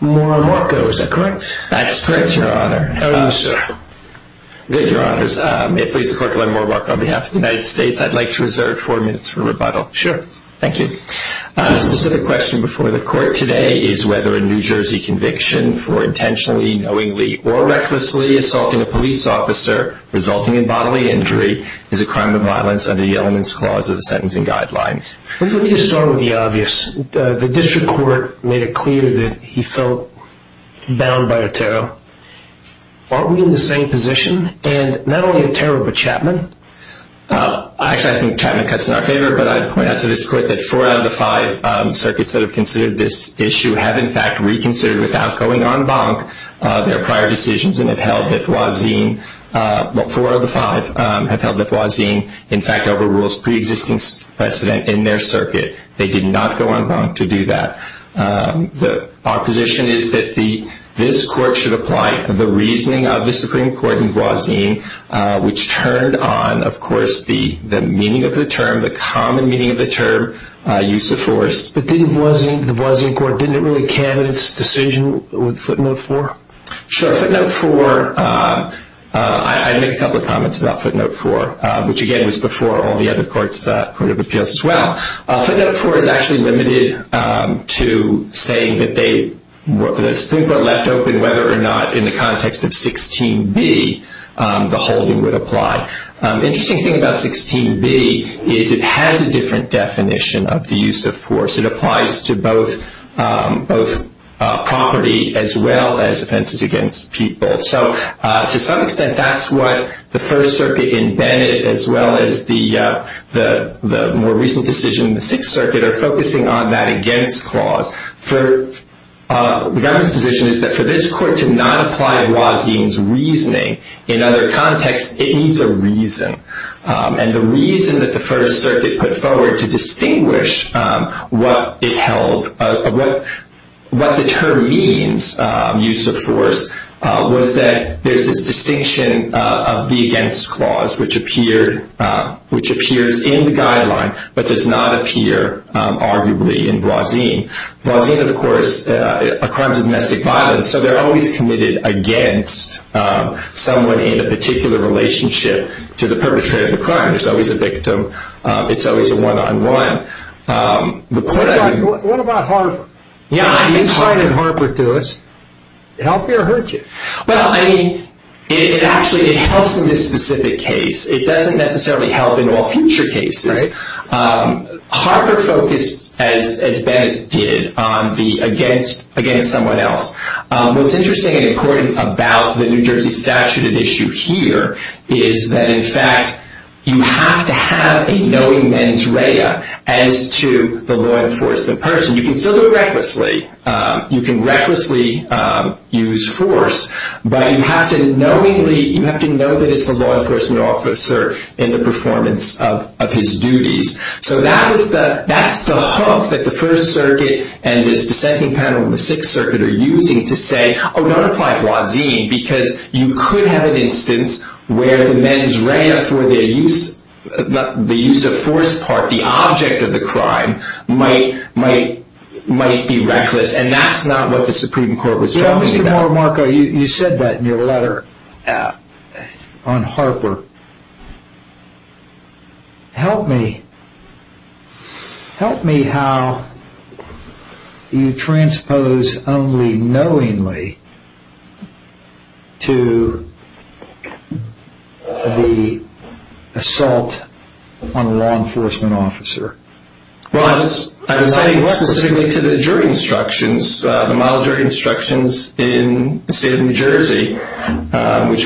Morel-Marco, is that correct? That's correct, Your Honor. How are you, sir? Good, Your Honors. May it please the Court to learn Morel-Marco on behalf of the United States. I'd like to reserve four minutes for rebuttal. Sure. Thank you. A specific question before the Court today is whether a New Jersey conviction for intentionally, knowingly, or recklessly assaulting a police officer resulting in bodily injury is a crime of violence under the Elements Clause of the Sentencing Guidelines. Let me just start with the obvious. The District Court made it clear that he felt bound by a tarot. Aren't we in the same position? And not only a tarot, but Chapman? Actually, I think Chapman cuts in our favor, but I'd point out to this Court that four out of the five circuits that have considered this issue have, in fact, reconsidered without going en banc their prior decisions and have held that Voisin, well, four of the five have held that Voisin, in fact, overrules pre-existing precedent in their circuit. They did not go en banc to do that. Our position is that this Court should apply the reasoning of the Supreme Court in Voisin, which turned on, of course, the meaning of the term, the common meaning of the term, use of force. But didn't Voisin, the Voisin Court, didn't really candidate this decision with footnote four? So to some extent, that's what the First Circuit in Bennett, as well as the more recent decision in the Sixth Circuit, are focusing on that against clause. The government's position is that for this Court to not apply Voisin's reasoning in other contexts, it needs a reason. And the reason that the First Circuit put forward to distinguish what it held, what the term means, use of force, was that there's this distinction of the against clause, which appears in the guideline but does not appear, arguably, in Voisin. Voisin, of course, is a crime of domestic violence, so they're always committed against someone in a particular relationship to the perpetrator of the crime. There's always a victim. It's always a one-on-one. What about Harper? You cited Harper to us. Did it help you or hurt you? Well, I mean, it actually helps in this specific case. It doesn't necessarily help in all future cases. Harper focused, as Bennett did, on the against someone else. What's interesting and important about the New Jersey statute at issue here is that, in fact, you have to have a knowing mens rea as to the law enforcement person. You can still do it recklessly. You can recklessly use force, but you have to know that it's the law enforcement officer in the performance of his duties. So that's the hook that the First Circuit and this dissenting panel in the Sixth Circuit are using to say, oh, don't apply Voisin, because you could have an instance where the mens rea for the use of force part, the object of the crime, might be reckless, and that's not what the Supreme Court was talking about. Well, Mr. Morimarco, you said that in your letter on Harper. Help me. Help me how you transpose only knowingly to the assault on a law enforcement officer. Well, I was citing specifically to the jury instructions, the model jury instructions in the state of New Jersey, which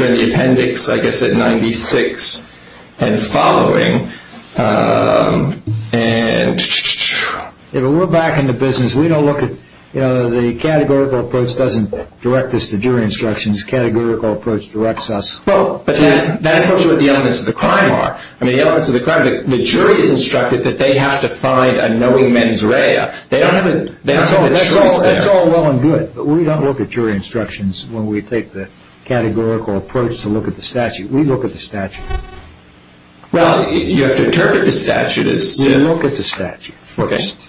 are in the appendix, I guess, at 96 and following. And we're back in the business. We don't look at the categorical approach doesn't direct us to jury instructions. Categorical approach directs us. But that's what the elements of the crime are. I mean, the elements of the crime, the jury is instructed that they have to find a knowing mens rea. They don't have a choice there. That's all well and good, but we don't look at jury instructions when we take the categorical approach to look at the statute. We look at the statute. Well, you have to interpret the statute as to... We look at the statute first.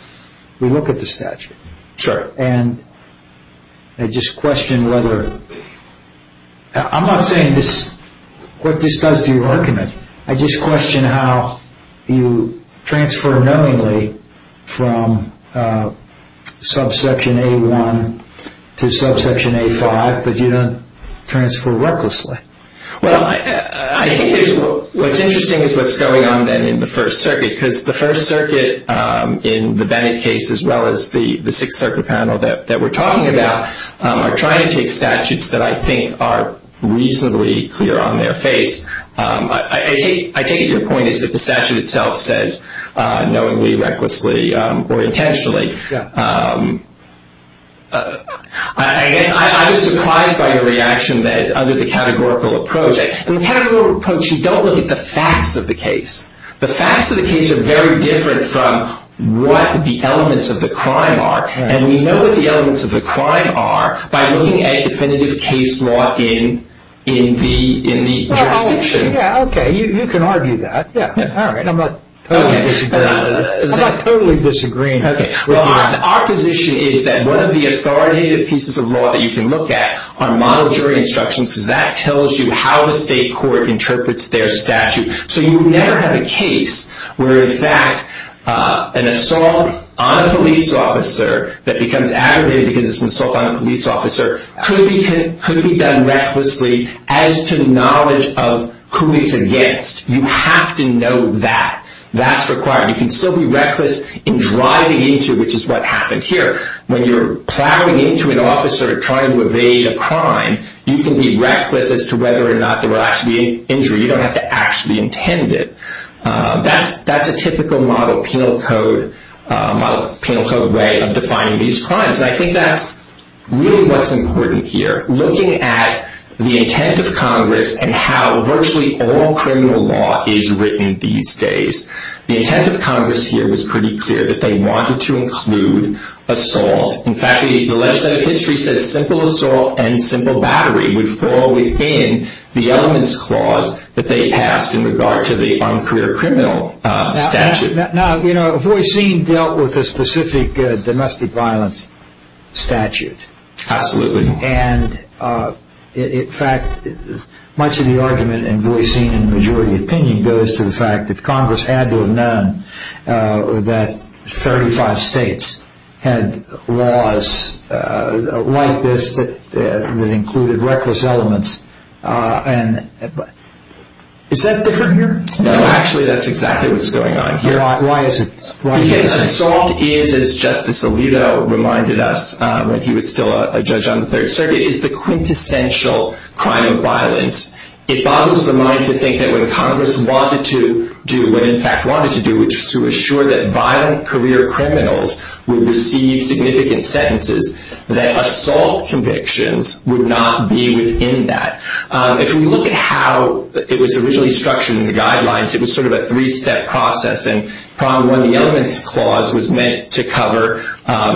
We look at the statute. Sure. And I just question whether... I'm not saying what this does to your argument. I just question how you transfer knowingly from subsection A1 to subsection A5, but you don't transfer recklessly. Well, I think what's interesting is what's going on then in the First Circuit, because the First Circuit in the Bennett case, as well as the Sixth Circuit panel that we're talking about, are trying to take statutes that I think are reasonably clear on their face. I take it your point is that the statute itself says knowingly, recklessly, or intentionally. Yeah. I guess I was surprised by your reaction that under the categorical approach... In the categorical approach, you don't look at the facts of the case. The facts of the case are very different from what the elements of the crime are, and we know what the elements of the crime are by looking at definitive case law in the... Yeah, okay. You can argue that. Yeah. All right. I'm not totally disagreeing. Okay. Well, our position is that one of the authoritative pieces of law that you can look at are model jury instructions, because that tells you how the state court interprets their statute. So you would never have a case where, in fact, an assault on a police officer that becomes aggravated because it's an assault on a police officer could be done recklessly as to knowledge of who it's against. You have to know that. That's required. You can still be reckless in driving into, which is what happened here. When you're plowing into an officer trying to evade a crime, you can be reckless as to whether or not there will actually be an injury. You don't have to actually intend it. That's a typical model penal code way of defining these crimes, and I think that's really what's important here. Looking at the intent of Congress and how virtually all criminal law is written these days, the intent of Congress here was pretty clear that they wanted to include assault. In fact, the legislative history says simple assault and simple battery would fall within the elements clause that they passed in regard to the uncareer criminal statute. Now, Voisin dealt with a specific domestic violence statute. Absolutely. In fact, much of the argument in Voisin's majority opinion goes to the fact that Congress had to have known that 35 states had laws like this that included reckless elements. Is that different here? No, actually that's exactly what's going on here. Why is it? Because assault is, as Justice Alito reminded us when he was still a judge on the Third Circuit, is the quintessential crime of violence. It boggles the mind to think that what Congress wanted to do, what it in fact wanted to do, which was to assure that violent career criminals would receive significant sentences, that assault convictions would not be within that. If we look at how it was originally structured in the guidelines, it was sort of a three-step process. And problem one, the elements clause was meant to cover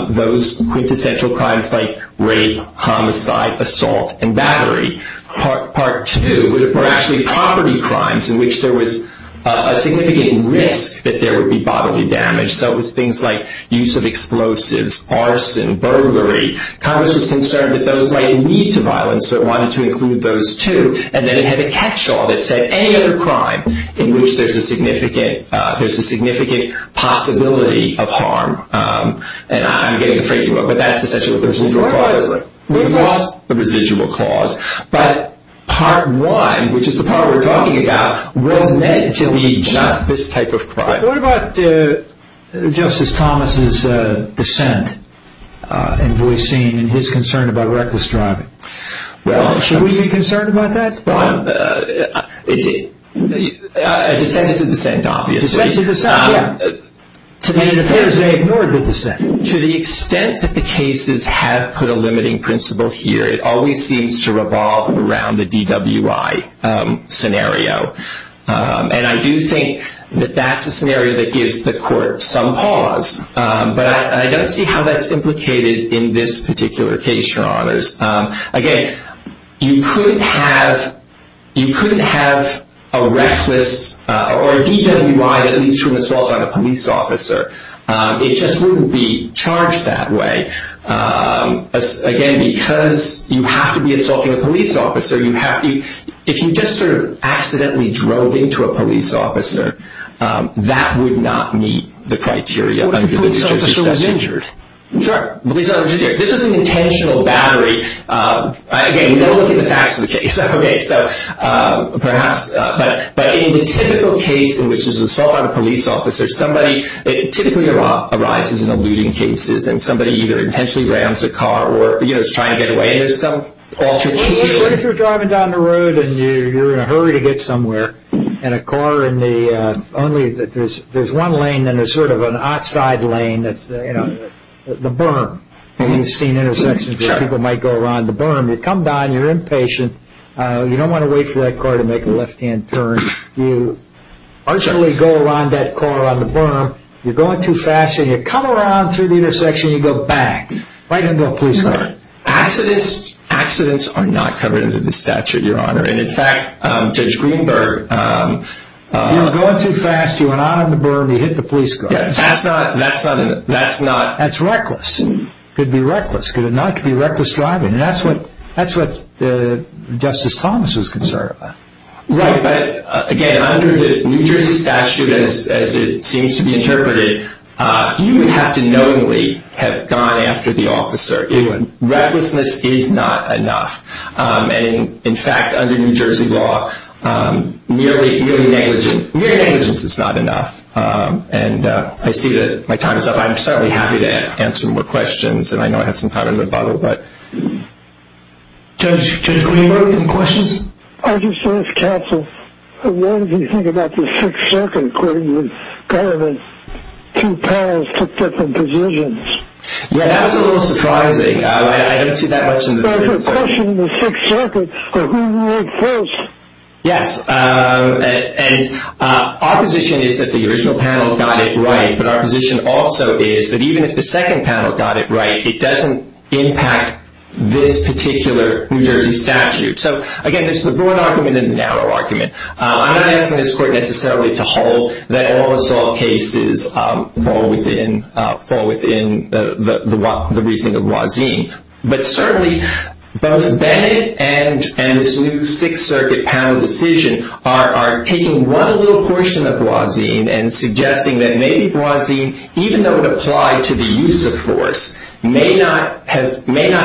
those quintessential crimes like rape, homicide, assault, and battery. Part two were actually property crimes in which there was a significant risk that there would be bodily damage. So it was things like use of explosives, arson, burglary. Congress was concerned that those might lead to violence, so it wanted to include those too. And then it had a catch-all that said any other crime in which there's a significant possibility of harm. And I'm getting the phrasing wrong, but that's essentially what the residual clause is. We've lost the residual clause. But part one, which is the part we're talking about, was meant to be just this type of crime. What about Justice Thomas' dissent in voicing his concern about reckless driving? Well, should we be concerned about that, Bob? A dissent is a dissent, obviously. A dissent is a dissent, yeah. To the extent that the cases have put a limiting principle here, it always seems to revolve around the DWI scenario. And I do think that that's a scenario that gives the court some pause. But I don't see how that's implicated in this particular case, Your Honors. Again, you could have a reckless or a DWI that leads to an assault on a police officer. It just wouldn't be charged that way. Again, because you have to be assaulting a police officer. If you just sort of accidentally drove into a police officer, that would not meet the criteria under the future exception. What if the police officer was injured? Sure. This was an intentional battery. Again, we don't look at the facts of the case. But in the typical case in which there's an assault on a police officer, typically it arises in eluding cases and somebody either intentionally rams a car or is trying to get away. What if you're driving down the road and you're in a hurry to get somewhere and there's one lane and there's sort of an outside lane, the berm, and you've seen intersections where people might go around the berm. You come down, you're impatient, you don't want to wait for that car to make a left-hand turn. You go around that corner on the berm, you're going too fast, and you come around through the intersection and you go back right into a police car. Accidents are not covered under the statute, Your Honor. In fact, Judge Greenberg... You're going too fast, you went out on the berm, you hit the police car. That's not... That's reckless. It could be reckless. It could not be reckless driving. That's what Justice Thomas was concerned about. Right, but again, under the New Jersey statute, as it seems to be interpreted, you would have to knowingly have gone after the officer. Recklessness is not enough. In fact, under New Jersey law, mere negligence is not enough. I see that my time is up. I'm certainly happy to answer more questions, and I know I had some time in the bottle. Judge Greenberg, any questions? I just want to ask counsel, what did he think about the Sixth Circuit according to kind of the two panels took different positions? That's a little surprising. I don't see that much in the... But I have a question in the Sixth Circuit, who won first? Yes, and our position is that the original panel got it right, but our position also is that even if the second panel got it right, it doesn't impact this particular New Jersey statute. So, again, there's the broad argument and the narrow argument. I'm not asking this court necessarily to hold that all assault cases fall within the reasoning of Voisin, but certainly both Bennett and this new Sixth Circuit panel decision are taking one little portion of Voisin and suggesting that maybe Voisin, even though it applied to the use of force, may not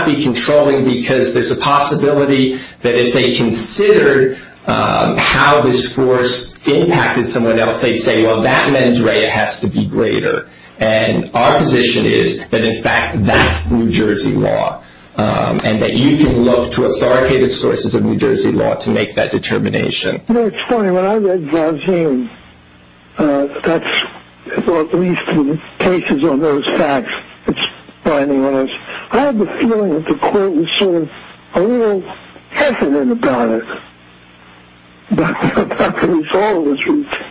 be controlling because there's a possibility that if they considered how this force impacted someone else, they'd say, well, that mens rea has to be greater. And our position is that, in fact, that's New Jersey law and that you can look to authoritative sources of New Jersey law to make that determination. You know, it's funny. When I read Voisin, that's at least in cases on those facts, it's binding on us. I had the feeling that the court was sort of a little hesitant about it, about the resolve of this case.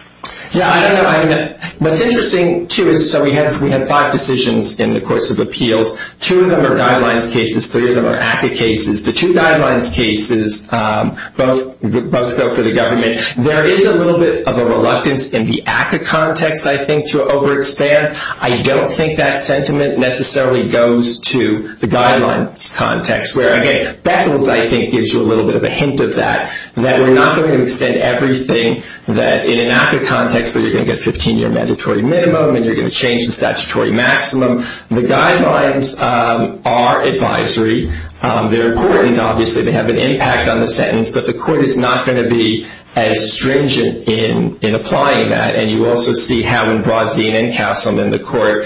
Yeah, I know. I mean, what's interesting, too, is that we had five decisions in the course of appeals. Two of them are guidelines cases. Three of them are active cases. The two guidelines cases both go for the government. There is a little bit of a reluctance in the ACCA context, I think, to overextend. I don't think that sentiment necessarily goes to the guidelines context where, again, Beckles, I think, gives you a little bit of a hint of that, that we're not going to extend everything that in an ACCA context where you're going to get a 15-year mandatory minimum and you're going to change the statutory maximum. The guidelines are advisory. They're important, obviously. They have an impact on the sentence. But the court is not going to be as stringent in applying that. And you also see how in Voisin and Castleman, the court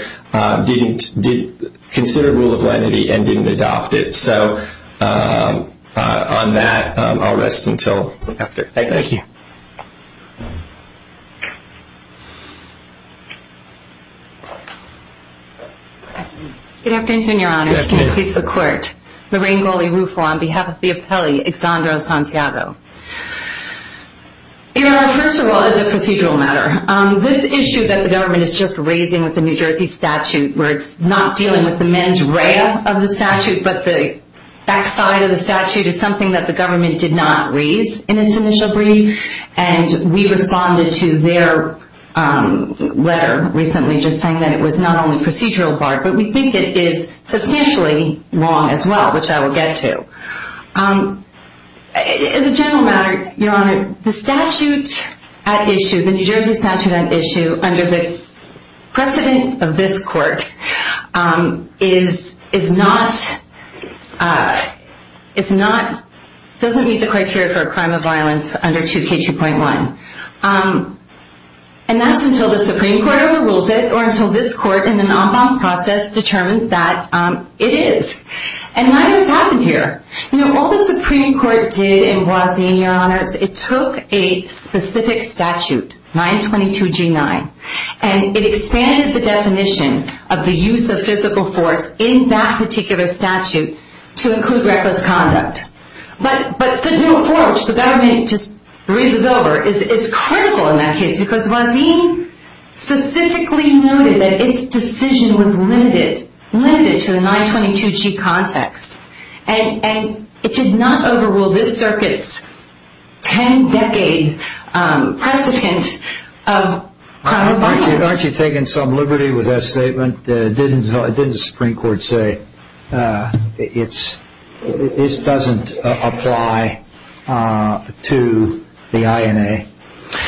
considered rule of lenity and didn't adopt it. So on that, I'll rest until after. Thank you. Thank you. Good afternoon, Your Honors. Good afternoon. I'm going to introduce the court. Lorraine Goley-Rufo on behalf of the appellee, Exondro Santiago. Your Honor, first of all, as a procedural matter, this issue that the government is just raising with the New Jersey statute where it's not dealing with the mens rea of the statute but the backside of the statute is something that the government did not raise in its initial brief, and we responded to their letter recently just saying that it was not only procedural part, but we think it is substantially wrong as well, which I will get to. As a general matter, Your Honor, the statute at issue, the New Jersey statute at issue under the precedent of this court doesn't meet the criteria for a crime of violence under 2K2.1. And that's until the Supreme Court overrules it or until this court in the non-bond process determines that it is. And what has happened here? You know, all the Supreme Court did in Boise, Your Honors, it took a specific statute, 922G9, and it expanded the definition of the use of physical force in that particular statute to include reckless conduct. But physical force, which the government just raises over, is critical in that case because Boise specifically noted that its decision was limited to the 922G context, and it did not overrule this circuit's ten-decade precedent of crime of violence. Aren't you taking some liberty with that statement? Didn't the Supreme Court say this doesn't apply to the INA?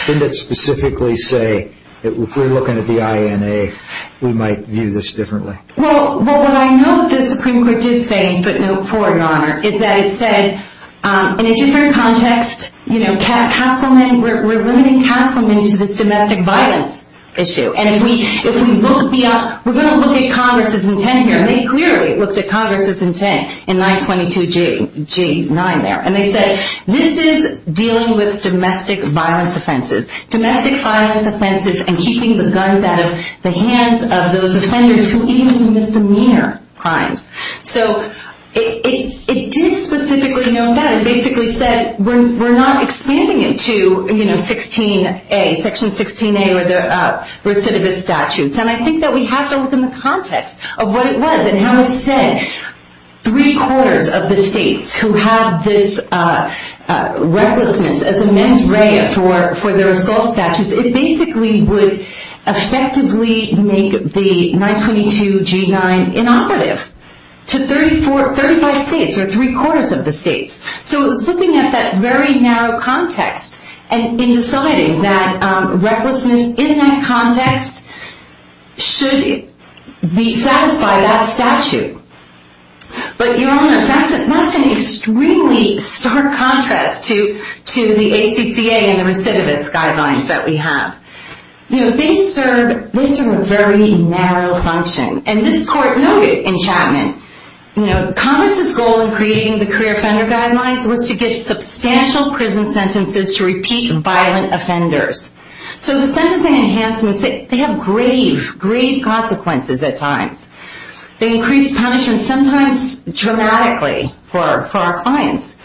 Didn't it specifically say if we're looking at the INA, we might view this differently? Well, what I know the Supreme Court did say in footnote 4, Your Honor, is that it said in a different context, you know, we're limiting Castleman to this domestic violence issue. And if we look beyond, we're going to look at Congress's intent here. And they clearly looked at Congress's intent in 922G9 there. And they said this is dealing with domestic violence offenses, domestic violence offenses and keeping the guns out of the hands of those offenders who even misdemeanor crimes. So it didn't specifically note that. And it basically said we're not expanding it to Section 16A or the recidivist statutes. And I think that we have to look in the context of what it was and how it said three-quarters of the states who had this recklessness as a mens rea for their assault statutes, because it basically would effectively make the 922G9 inoperative to 35 states or three-quarters of the states. So it was looking at that very narrow context in deciding that recklessness in that context should satisfy that statute. But that's an extremely stark contrast to the ACCA and the recidivist guidelines that we have. They serve a very narrow function. And this court noted in Chapman, Congress's goal in creating the career offender guidelines was to get substantial prison sentences to repeat violent offenders. So the sentencing enhancements, they have grave, grave consequences at times. They increase punishment sometimes dramatically for our clients.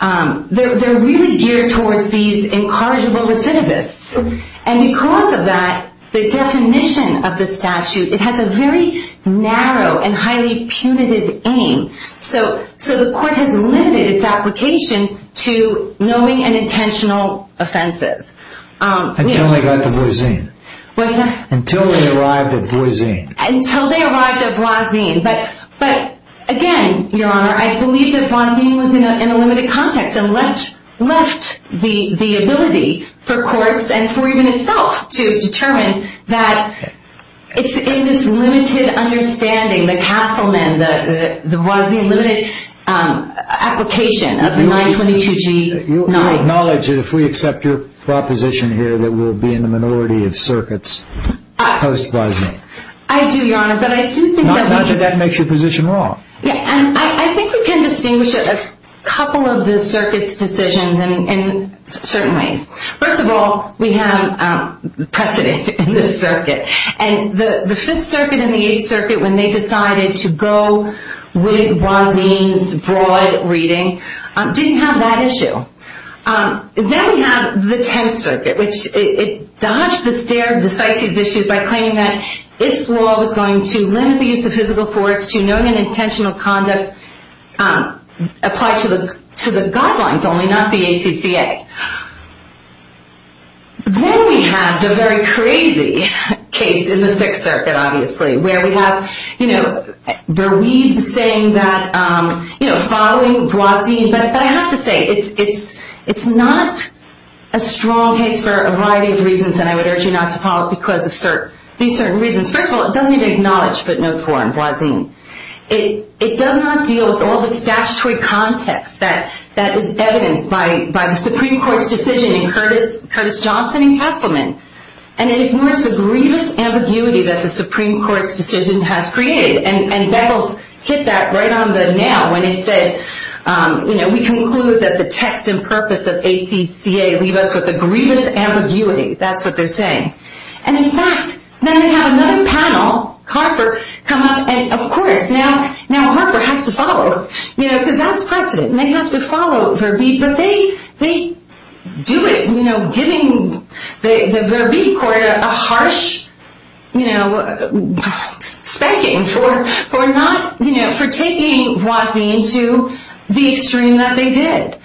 They're really geared towards these incorrigible recidivists. And because of that, the definition of the statute, it has a very narrow and highly punitive aim. So the court has limited its application to knowing and intentional offenses. Until they got the voisine. What's that? Until they arrived at voisine. Until they arrived at voisine. But again, Your Honor, I believe that voisine was in a limited context and left the ability for courts and for even itself to determine that it's in this limited understanding, the Castleman, the voisine limited application of the 922G9. I would acknowledge that if we accept your proposition here that we'll be in the minority of circuits post-voisine. I do, Your Honor, but I do think that we... Not that that makes your position wrong. I think we can distinguish a couple of the circuits' decisions in certain ways. First of all, we have precedent in this circuit. And the 5th Circuit and the 8th Circuit, when they decided to go with voisine's broad reading, didn't have that issue. Then we have the 10th Circuit, which it dodged the stare of decisive issues by claiming that its law was going to limit the use of physical force to knowing and intentional conduct applied to the guidelines only, not the ACCA. Then we have the very crazy case in the 6th Circuit, obviously, where we have Verweijde saying that following voisine... But I have to say, it's not a strong case for a variety of reasons, and I would urge you not to follow it because of these certain reasons. First of all, it doesn't even acknowledge footnote 4 on voisine. It does not deal with all the statutory context that is evidenced by the Supreme Court's decision in Curtis Johnson and Kesselman. And it ignores the grievous ambiguity that the Supreme Court's decision has created. And Beckles hit that right on the nail when he said, we conclude that the text and purpose of ACCA leave us with a grievous ambiguity. That's what they're saying. And in fact, then they have another panel, Harper, come up, and of course, now Harper has to follow it. Because that's precedent, and they have to follow Verweijde, but they do it giving the Verweijde court a harsh spanking for taking voisine to the extreme that they did.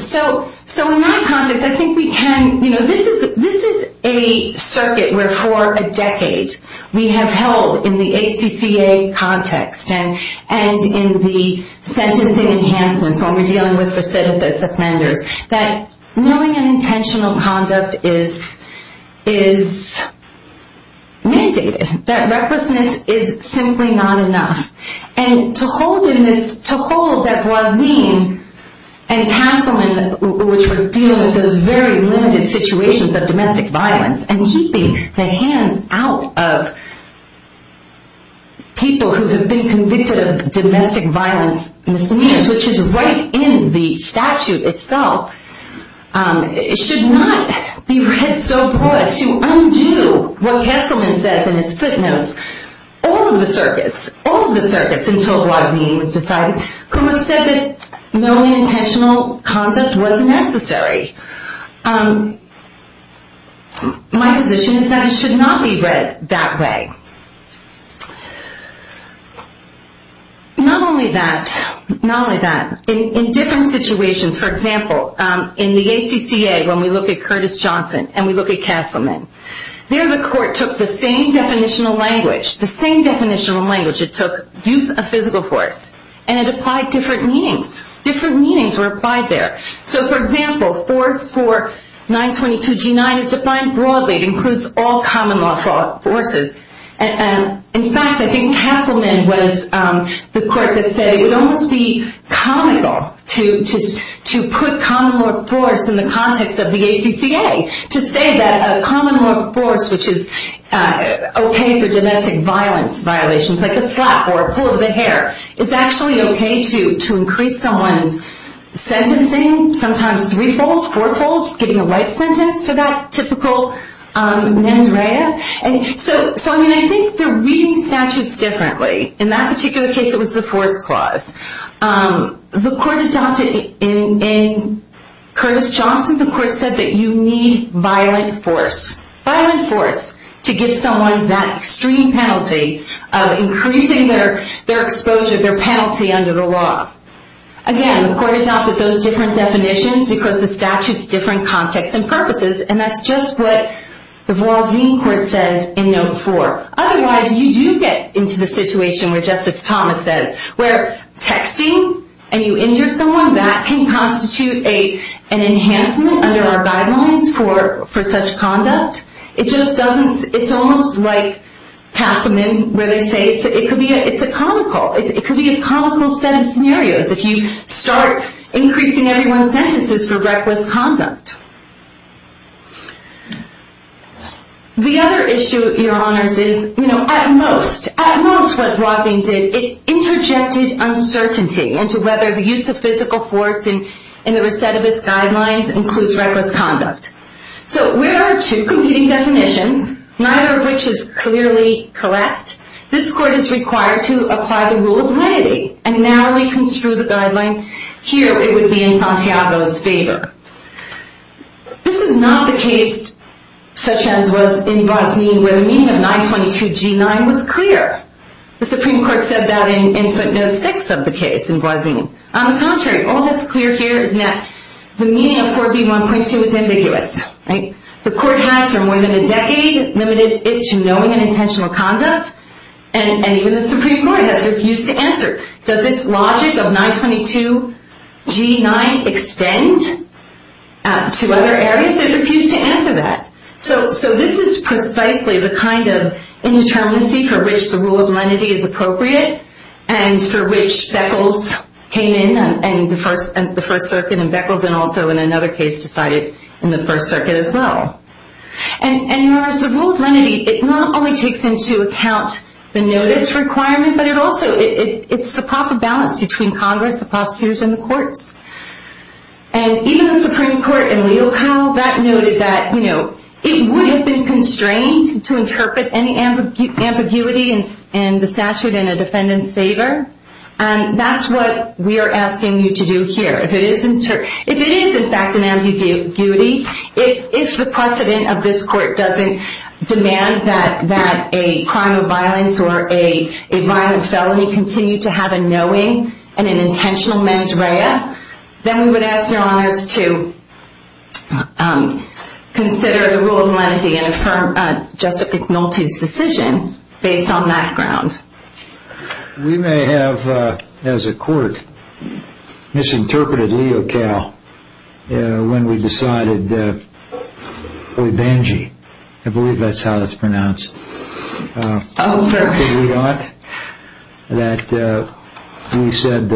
So in my context, I think we can... This is a circuit where for a decade we have held in the ACCA context and in the sentencing enhancements when we're dealing with recidivist offenders, that knowing an intentional conduct is mandated. That recklessness is simply not enough. And to hold that voisine and Kesselman, which were dealing with those very limited situations of domestic violence and keeping the hands out of people who have been convicted of domestic violence misuse, which is right in the statute itself, should not be read so broad to undo what Kesselman says in his footnotes. All of the circuits, all of the circuits until voisine was decided, who have said that knowing intentional conduct was necessary. My position is that it should not be read that way. Not only that, in different situations, for example, in the ACCA when we look at Curtis Johnson and we look at Kesselman, there the court took the same definitional language, the same definitional language it took, use of physical force, and it applied different meanings. Different meanings were applied there. So, for example, force for 922G9 is defined broadly. It includes all common law forces. In fact, I think Kesselman was the court that said it would almost be comical to put common law force in the context of the ACCA, to say that a common law force, which is okay for domestic violence violations, like a slap or a pull of the hair, is actually okay to increase someone's sentencing, sometimes threefold, fourfold, skipping a life sentence for that typical mens rea. So, I mean, I think they're reading statutes differently. In that particular case, it was the force clause. The court adopted in Curtis Johnson, the court said that you need violent force, violent force to give someone that extreme penalty of increasing their exposure, their penalty under the law. Again, the court adopted those different definitions because the statute's different context and purposes, and that's just what the Vualzine Court says in Note 4. Otherwise, you do get into the situation where Justice Thomas says where texting and you injure someone, that can constitute an enhancement under our guidelines for such conduct. It just doesn't, it's almost like Passamon, where they say it's a comical, it could be a comical set of scenarios if you start increasing everyone's sentences for reckless conduct. The other issue, Your Honors, is, you know, at most, at most what Vualzine did, it interjected uncertainty into whether the use of physical force in the recidivist guidelines includes reckless conduct. So, where are our two competing definitions? Neither of which is clearly correct. This court is required to apply the rule of lenity and narrowly construe the guideline. Here, it would be in Santiago's favor. This is not the case, such as was in Vualzine, where the meaning of 922G9 was clear. The Supreme Court said that in footnotes 6 of the case in Vualzine. On the contrary, all that's clear here is that the meaning of 4B1.2 is ambiguous. The court has, for more than a decade, limited it to knowing and intentional conduct, and even the Supreme Court has refused to answer. Does its logic of 922G9 extend to other areas? It refused to answer that. So, this is precisely the kind of indeterminacy for which the rule of lenity is appropriate, and for which Beckles came in, and the First Circuit, and Beckles, and also in another case decided in the First Circuit as well. And whereas the rule of lenity, it not only takes into account the notice requirement, but it also, it's the proper balance between Congress, the prosecutors, and the courts. And even the Supreme Court in Leocow, that noted that, you know, it would have been constrained to interpret any ambiguity in the statute in a defendant's favor, and that's what we are asking you to do here. If it is, in fact, an ambiguity, if the precedent of this court doesn't demand that a crime of violence or a violent felony continue to have a knowing and an intentional mens rea, then we would ask your honors to consider the rule of lenity and affirm, just ignore his decision based on that ground. We may have, as a court, misinterpreted Leocow when we decided, I believe that's how it's pronounced, that we said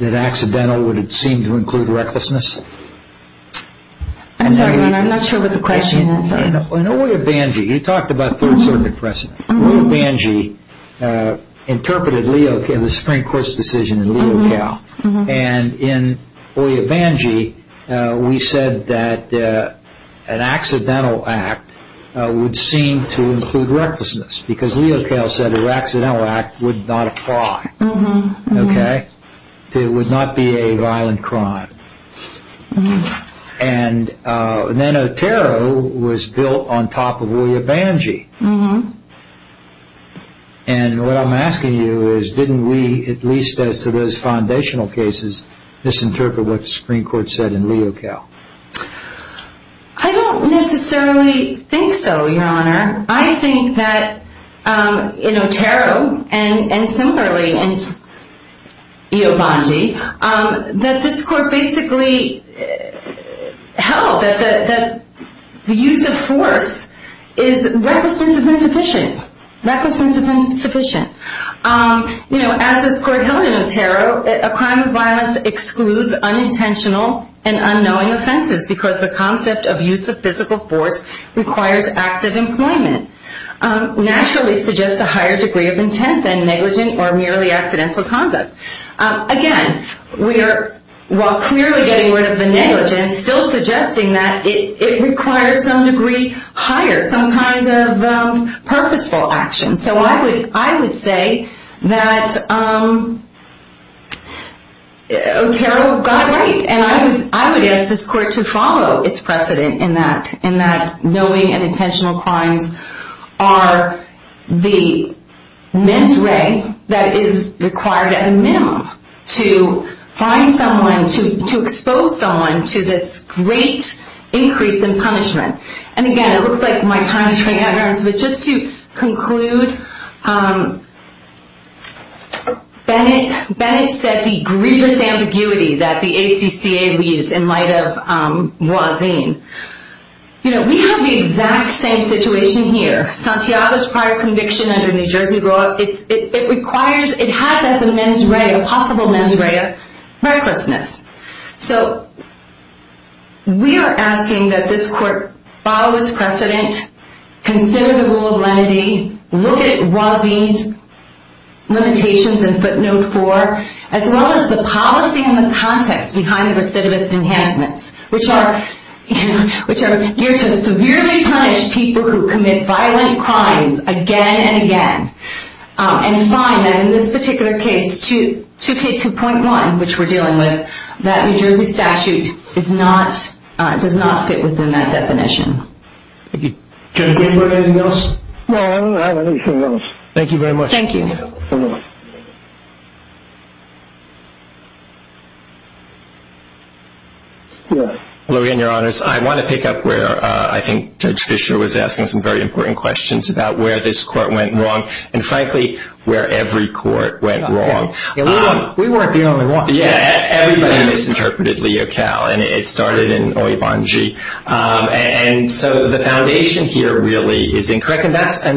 that accidental would seem to include recklessness. I'm sorry, I'm not sure what the question is. In Oya Bangee, you talked about Third Circuit precedent. Oya Bangee interpreted the Supreme Court's decision in Leocow. And in Oya Bangee, we said that an accidental act would seem to include recklessness because Leocow said an accidental act would not apply, okay? It would not be a violent crime. And then Otero was built on top of Oya Bangee. And what I'm asking you is, didn't we, at least as to those foundational cases, misinterpret what the Supreme Court said in Leocow? I don't necessarily think so, your honor. I think that in Otero and similarly in Oya Bangee, that this court basically held that the use of force is recklessness is insufficient. As this court held in Otero, a crime of violence excludes unintentional and unknowing offenses because the concept of use of physical force requires active employment, naturally suggests a higher degree of intent than negligent or merely accidental conduct. Again, while clearly getting rid of the negligence, and still suggesting that it requires some degree higher, some kind of purposeful action. So I would say that Otero got it right. And I would ask this court to follow its precedent in that knowing and intentional crimes are the ment re that is required at a minimum to find someone, to expose someone to this great increase in punishment. And again, it looks like my time is running out, but just to conclude, Bennett said the grievous ambiguity that the ACCA leaves in light of Wazin. We have the exact same situation here. Santiago's prior conviction under New Jersey law, it has as a possible mens re a recklessness. So we are asking that this court follow its precedent, consider the rule of lenity, look at Wazin's limitations and footnote four, as well as the policy and the context behind the recidivist enhancements, which are here to severely punish people who commit violent crimes again and again, and find that in this particular case, 2K2.1, which we're dealing with, that New Jersey statute does not fit within that definition. Thank you. Judge Greenberg, anything else? No, I don't have anything else. Thank you very much. Thank you. I want to pick up where I think Judge Fischer was asking some very important questions about where this court went wrong, and frankly, where every court went wrong. We weren't the only one. Yeah, everybody misinterpreted Leo Cal, and it started in Oibongi. And so the foundation here really is incorrect, and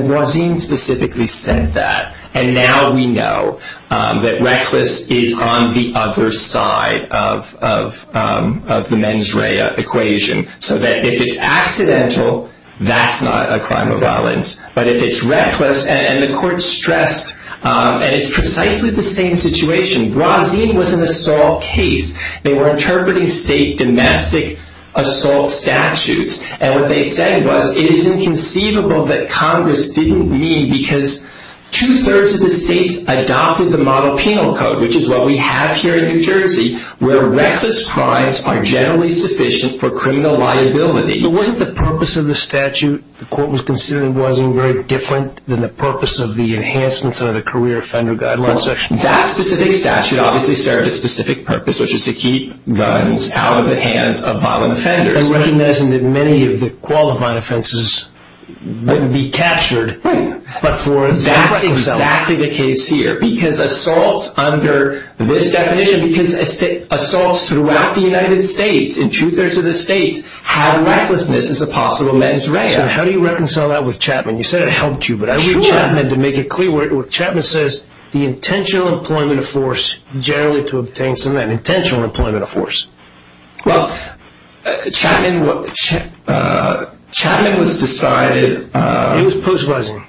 Wazin specifically said that. And now we know that reckless is on the other side of the mens rea equation, so that if it's accidental, that's not a crime of violence. But if it's reckless, and the court stressed, and it's precisely the same situation. Wazin was an assault case. They were interpreting state domestic assault statutes, and what they said was it is inconceivable that Congress didn't mean, because two-thirds of the states adopted the model penal code, which is what we have here in New Jersey, where reckless crimes are generally sufficient for criminal liability. But wasn't the purpose of the statute the court was considering wasn't very different than the purpose of the enhancements under the career offender guidelines? That specific statute obviously served a specific purpose, which is to keep guns out of the hands of violent offenders. And recognizing that many of the qualifying offenses wouldn't be captured. But that's exactly the case here. Because assaults under this definition, because assaults throughout the United States, in two-thirds of the states, have recklessness as a possible mens rea. So how do you reconcile that with Chapman? You said it helped you, but I read Chapman to make it clear. Chapman says the intentional employment of force, generally to obtain some of that intentional employment of force. Well, Chapman was decided... It was post-Voziner.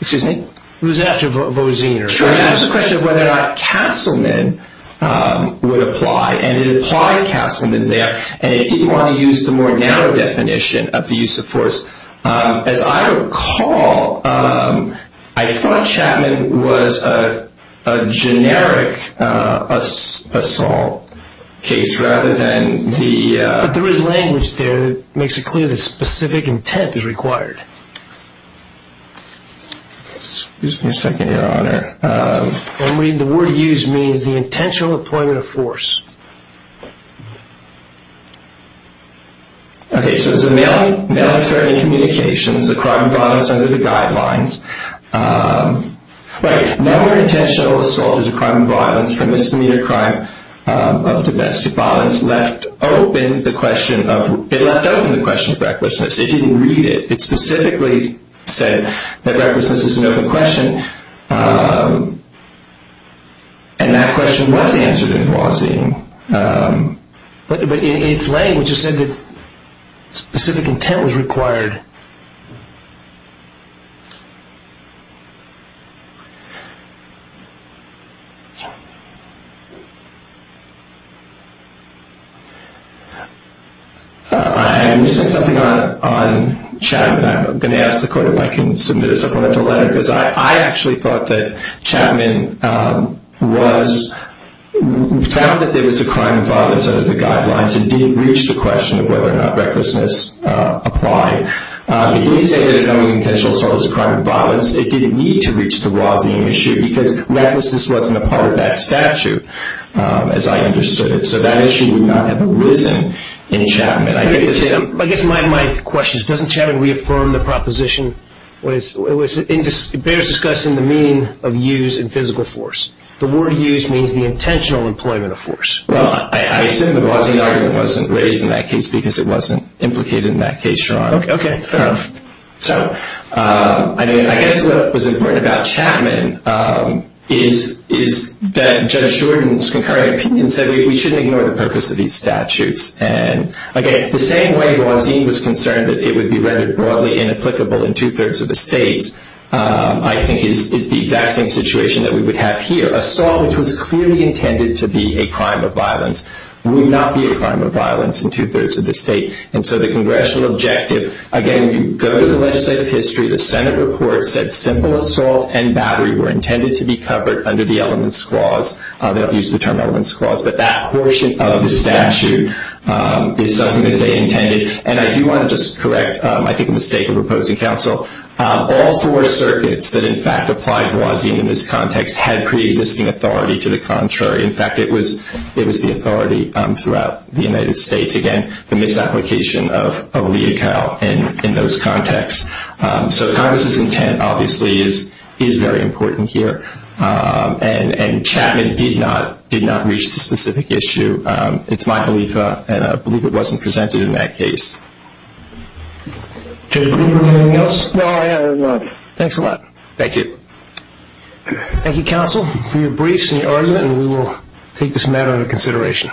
Excuse me? It was after Voziner. Sure. It was a question of whether or not Castleman would apply. And it applied Castleman there. And it didn't want to use the more narrow definition of the use of force. As I recall, I thought Chapman was a generic assault case rather than the... But there is language there that makes it clear that specific intent is required. Excuse me a second, Your Honor. The word used means the intentional employment of force. Okay. So it's a male and feminine communication. It's a crime of violence under the guidelines. Right. No more intentional assault is a crime of violence for misdemeanor crime of domestic violence. It left open the question of recklessness. It didn't read it. It specifically said that recklessness is an open question. And that question was answered in Voziner. But in its language, it said that specific intent was required. I'm missing something on Chapman. I'm going to ask the court if I can submit a supplemental letter because I actually thought that Chapman was found that there was a crime of violence under the guidelines and didn't reach the question of whether or not recklessness applied. It didn't say that an unintentional assault was a crime of violence. It didn't need to reach the Voziner issue because recklessness wasn't a part of that statute as I understood it. So that issue would not have arisen in Chapman. I guess my question is doesn't Chapman reaffirm the proposition? It bears discussing the meaning of use in physical force. The word use means the intentional employment of force. Well, I assume the Voziner argument wasn't raised in that case because it wasn't implicated in that case, Sean. Okay. Fair enough. So I guess what was important about Chapman is that Judge Jordan's concurring opinion said we shouldn't ignore the purpose of these statutes. And, again, the same way Voziner was concerned that it would be rendered broadly inapplicable in two-thirds of the states, I think is the exact same situation that we would have here. Assault, which was clearly intended to be a crime of violence, would not be a crime of violence in two-thirds of the state. And so the congressional objective, again, you go to the legislative history, the Senate report said simple assault and battery were intended to be covered under the elements clause. They don't use the term elements clause. But that portion of the statute is something that they intended. And I do want to just correct, I think, a mistake of opposing counsel. All four circuits that, in fact, applied Voziner in this context had preexisting authority to the contrary. In fact, it was the authority throughout the United States. Again, the misapplication of legal in those contexts. So Congress's intent, obviously, is very important here. And Chapman did not reach the specific issue. It's my belief, and I believe it wasn't presented in that case. Judge Greenberg, anything else? No, I have nothing. Thanks a lot. Thank you. Thank you, counsel, for your briefs and your argument, and we will take this matter into consideration.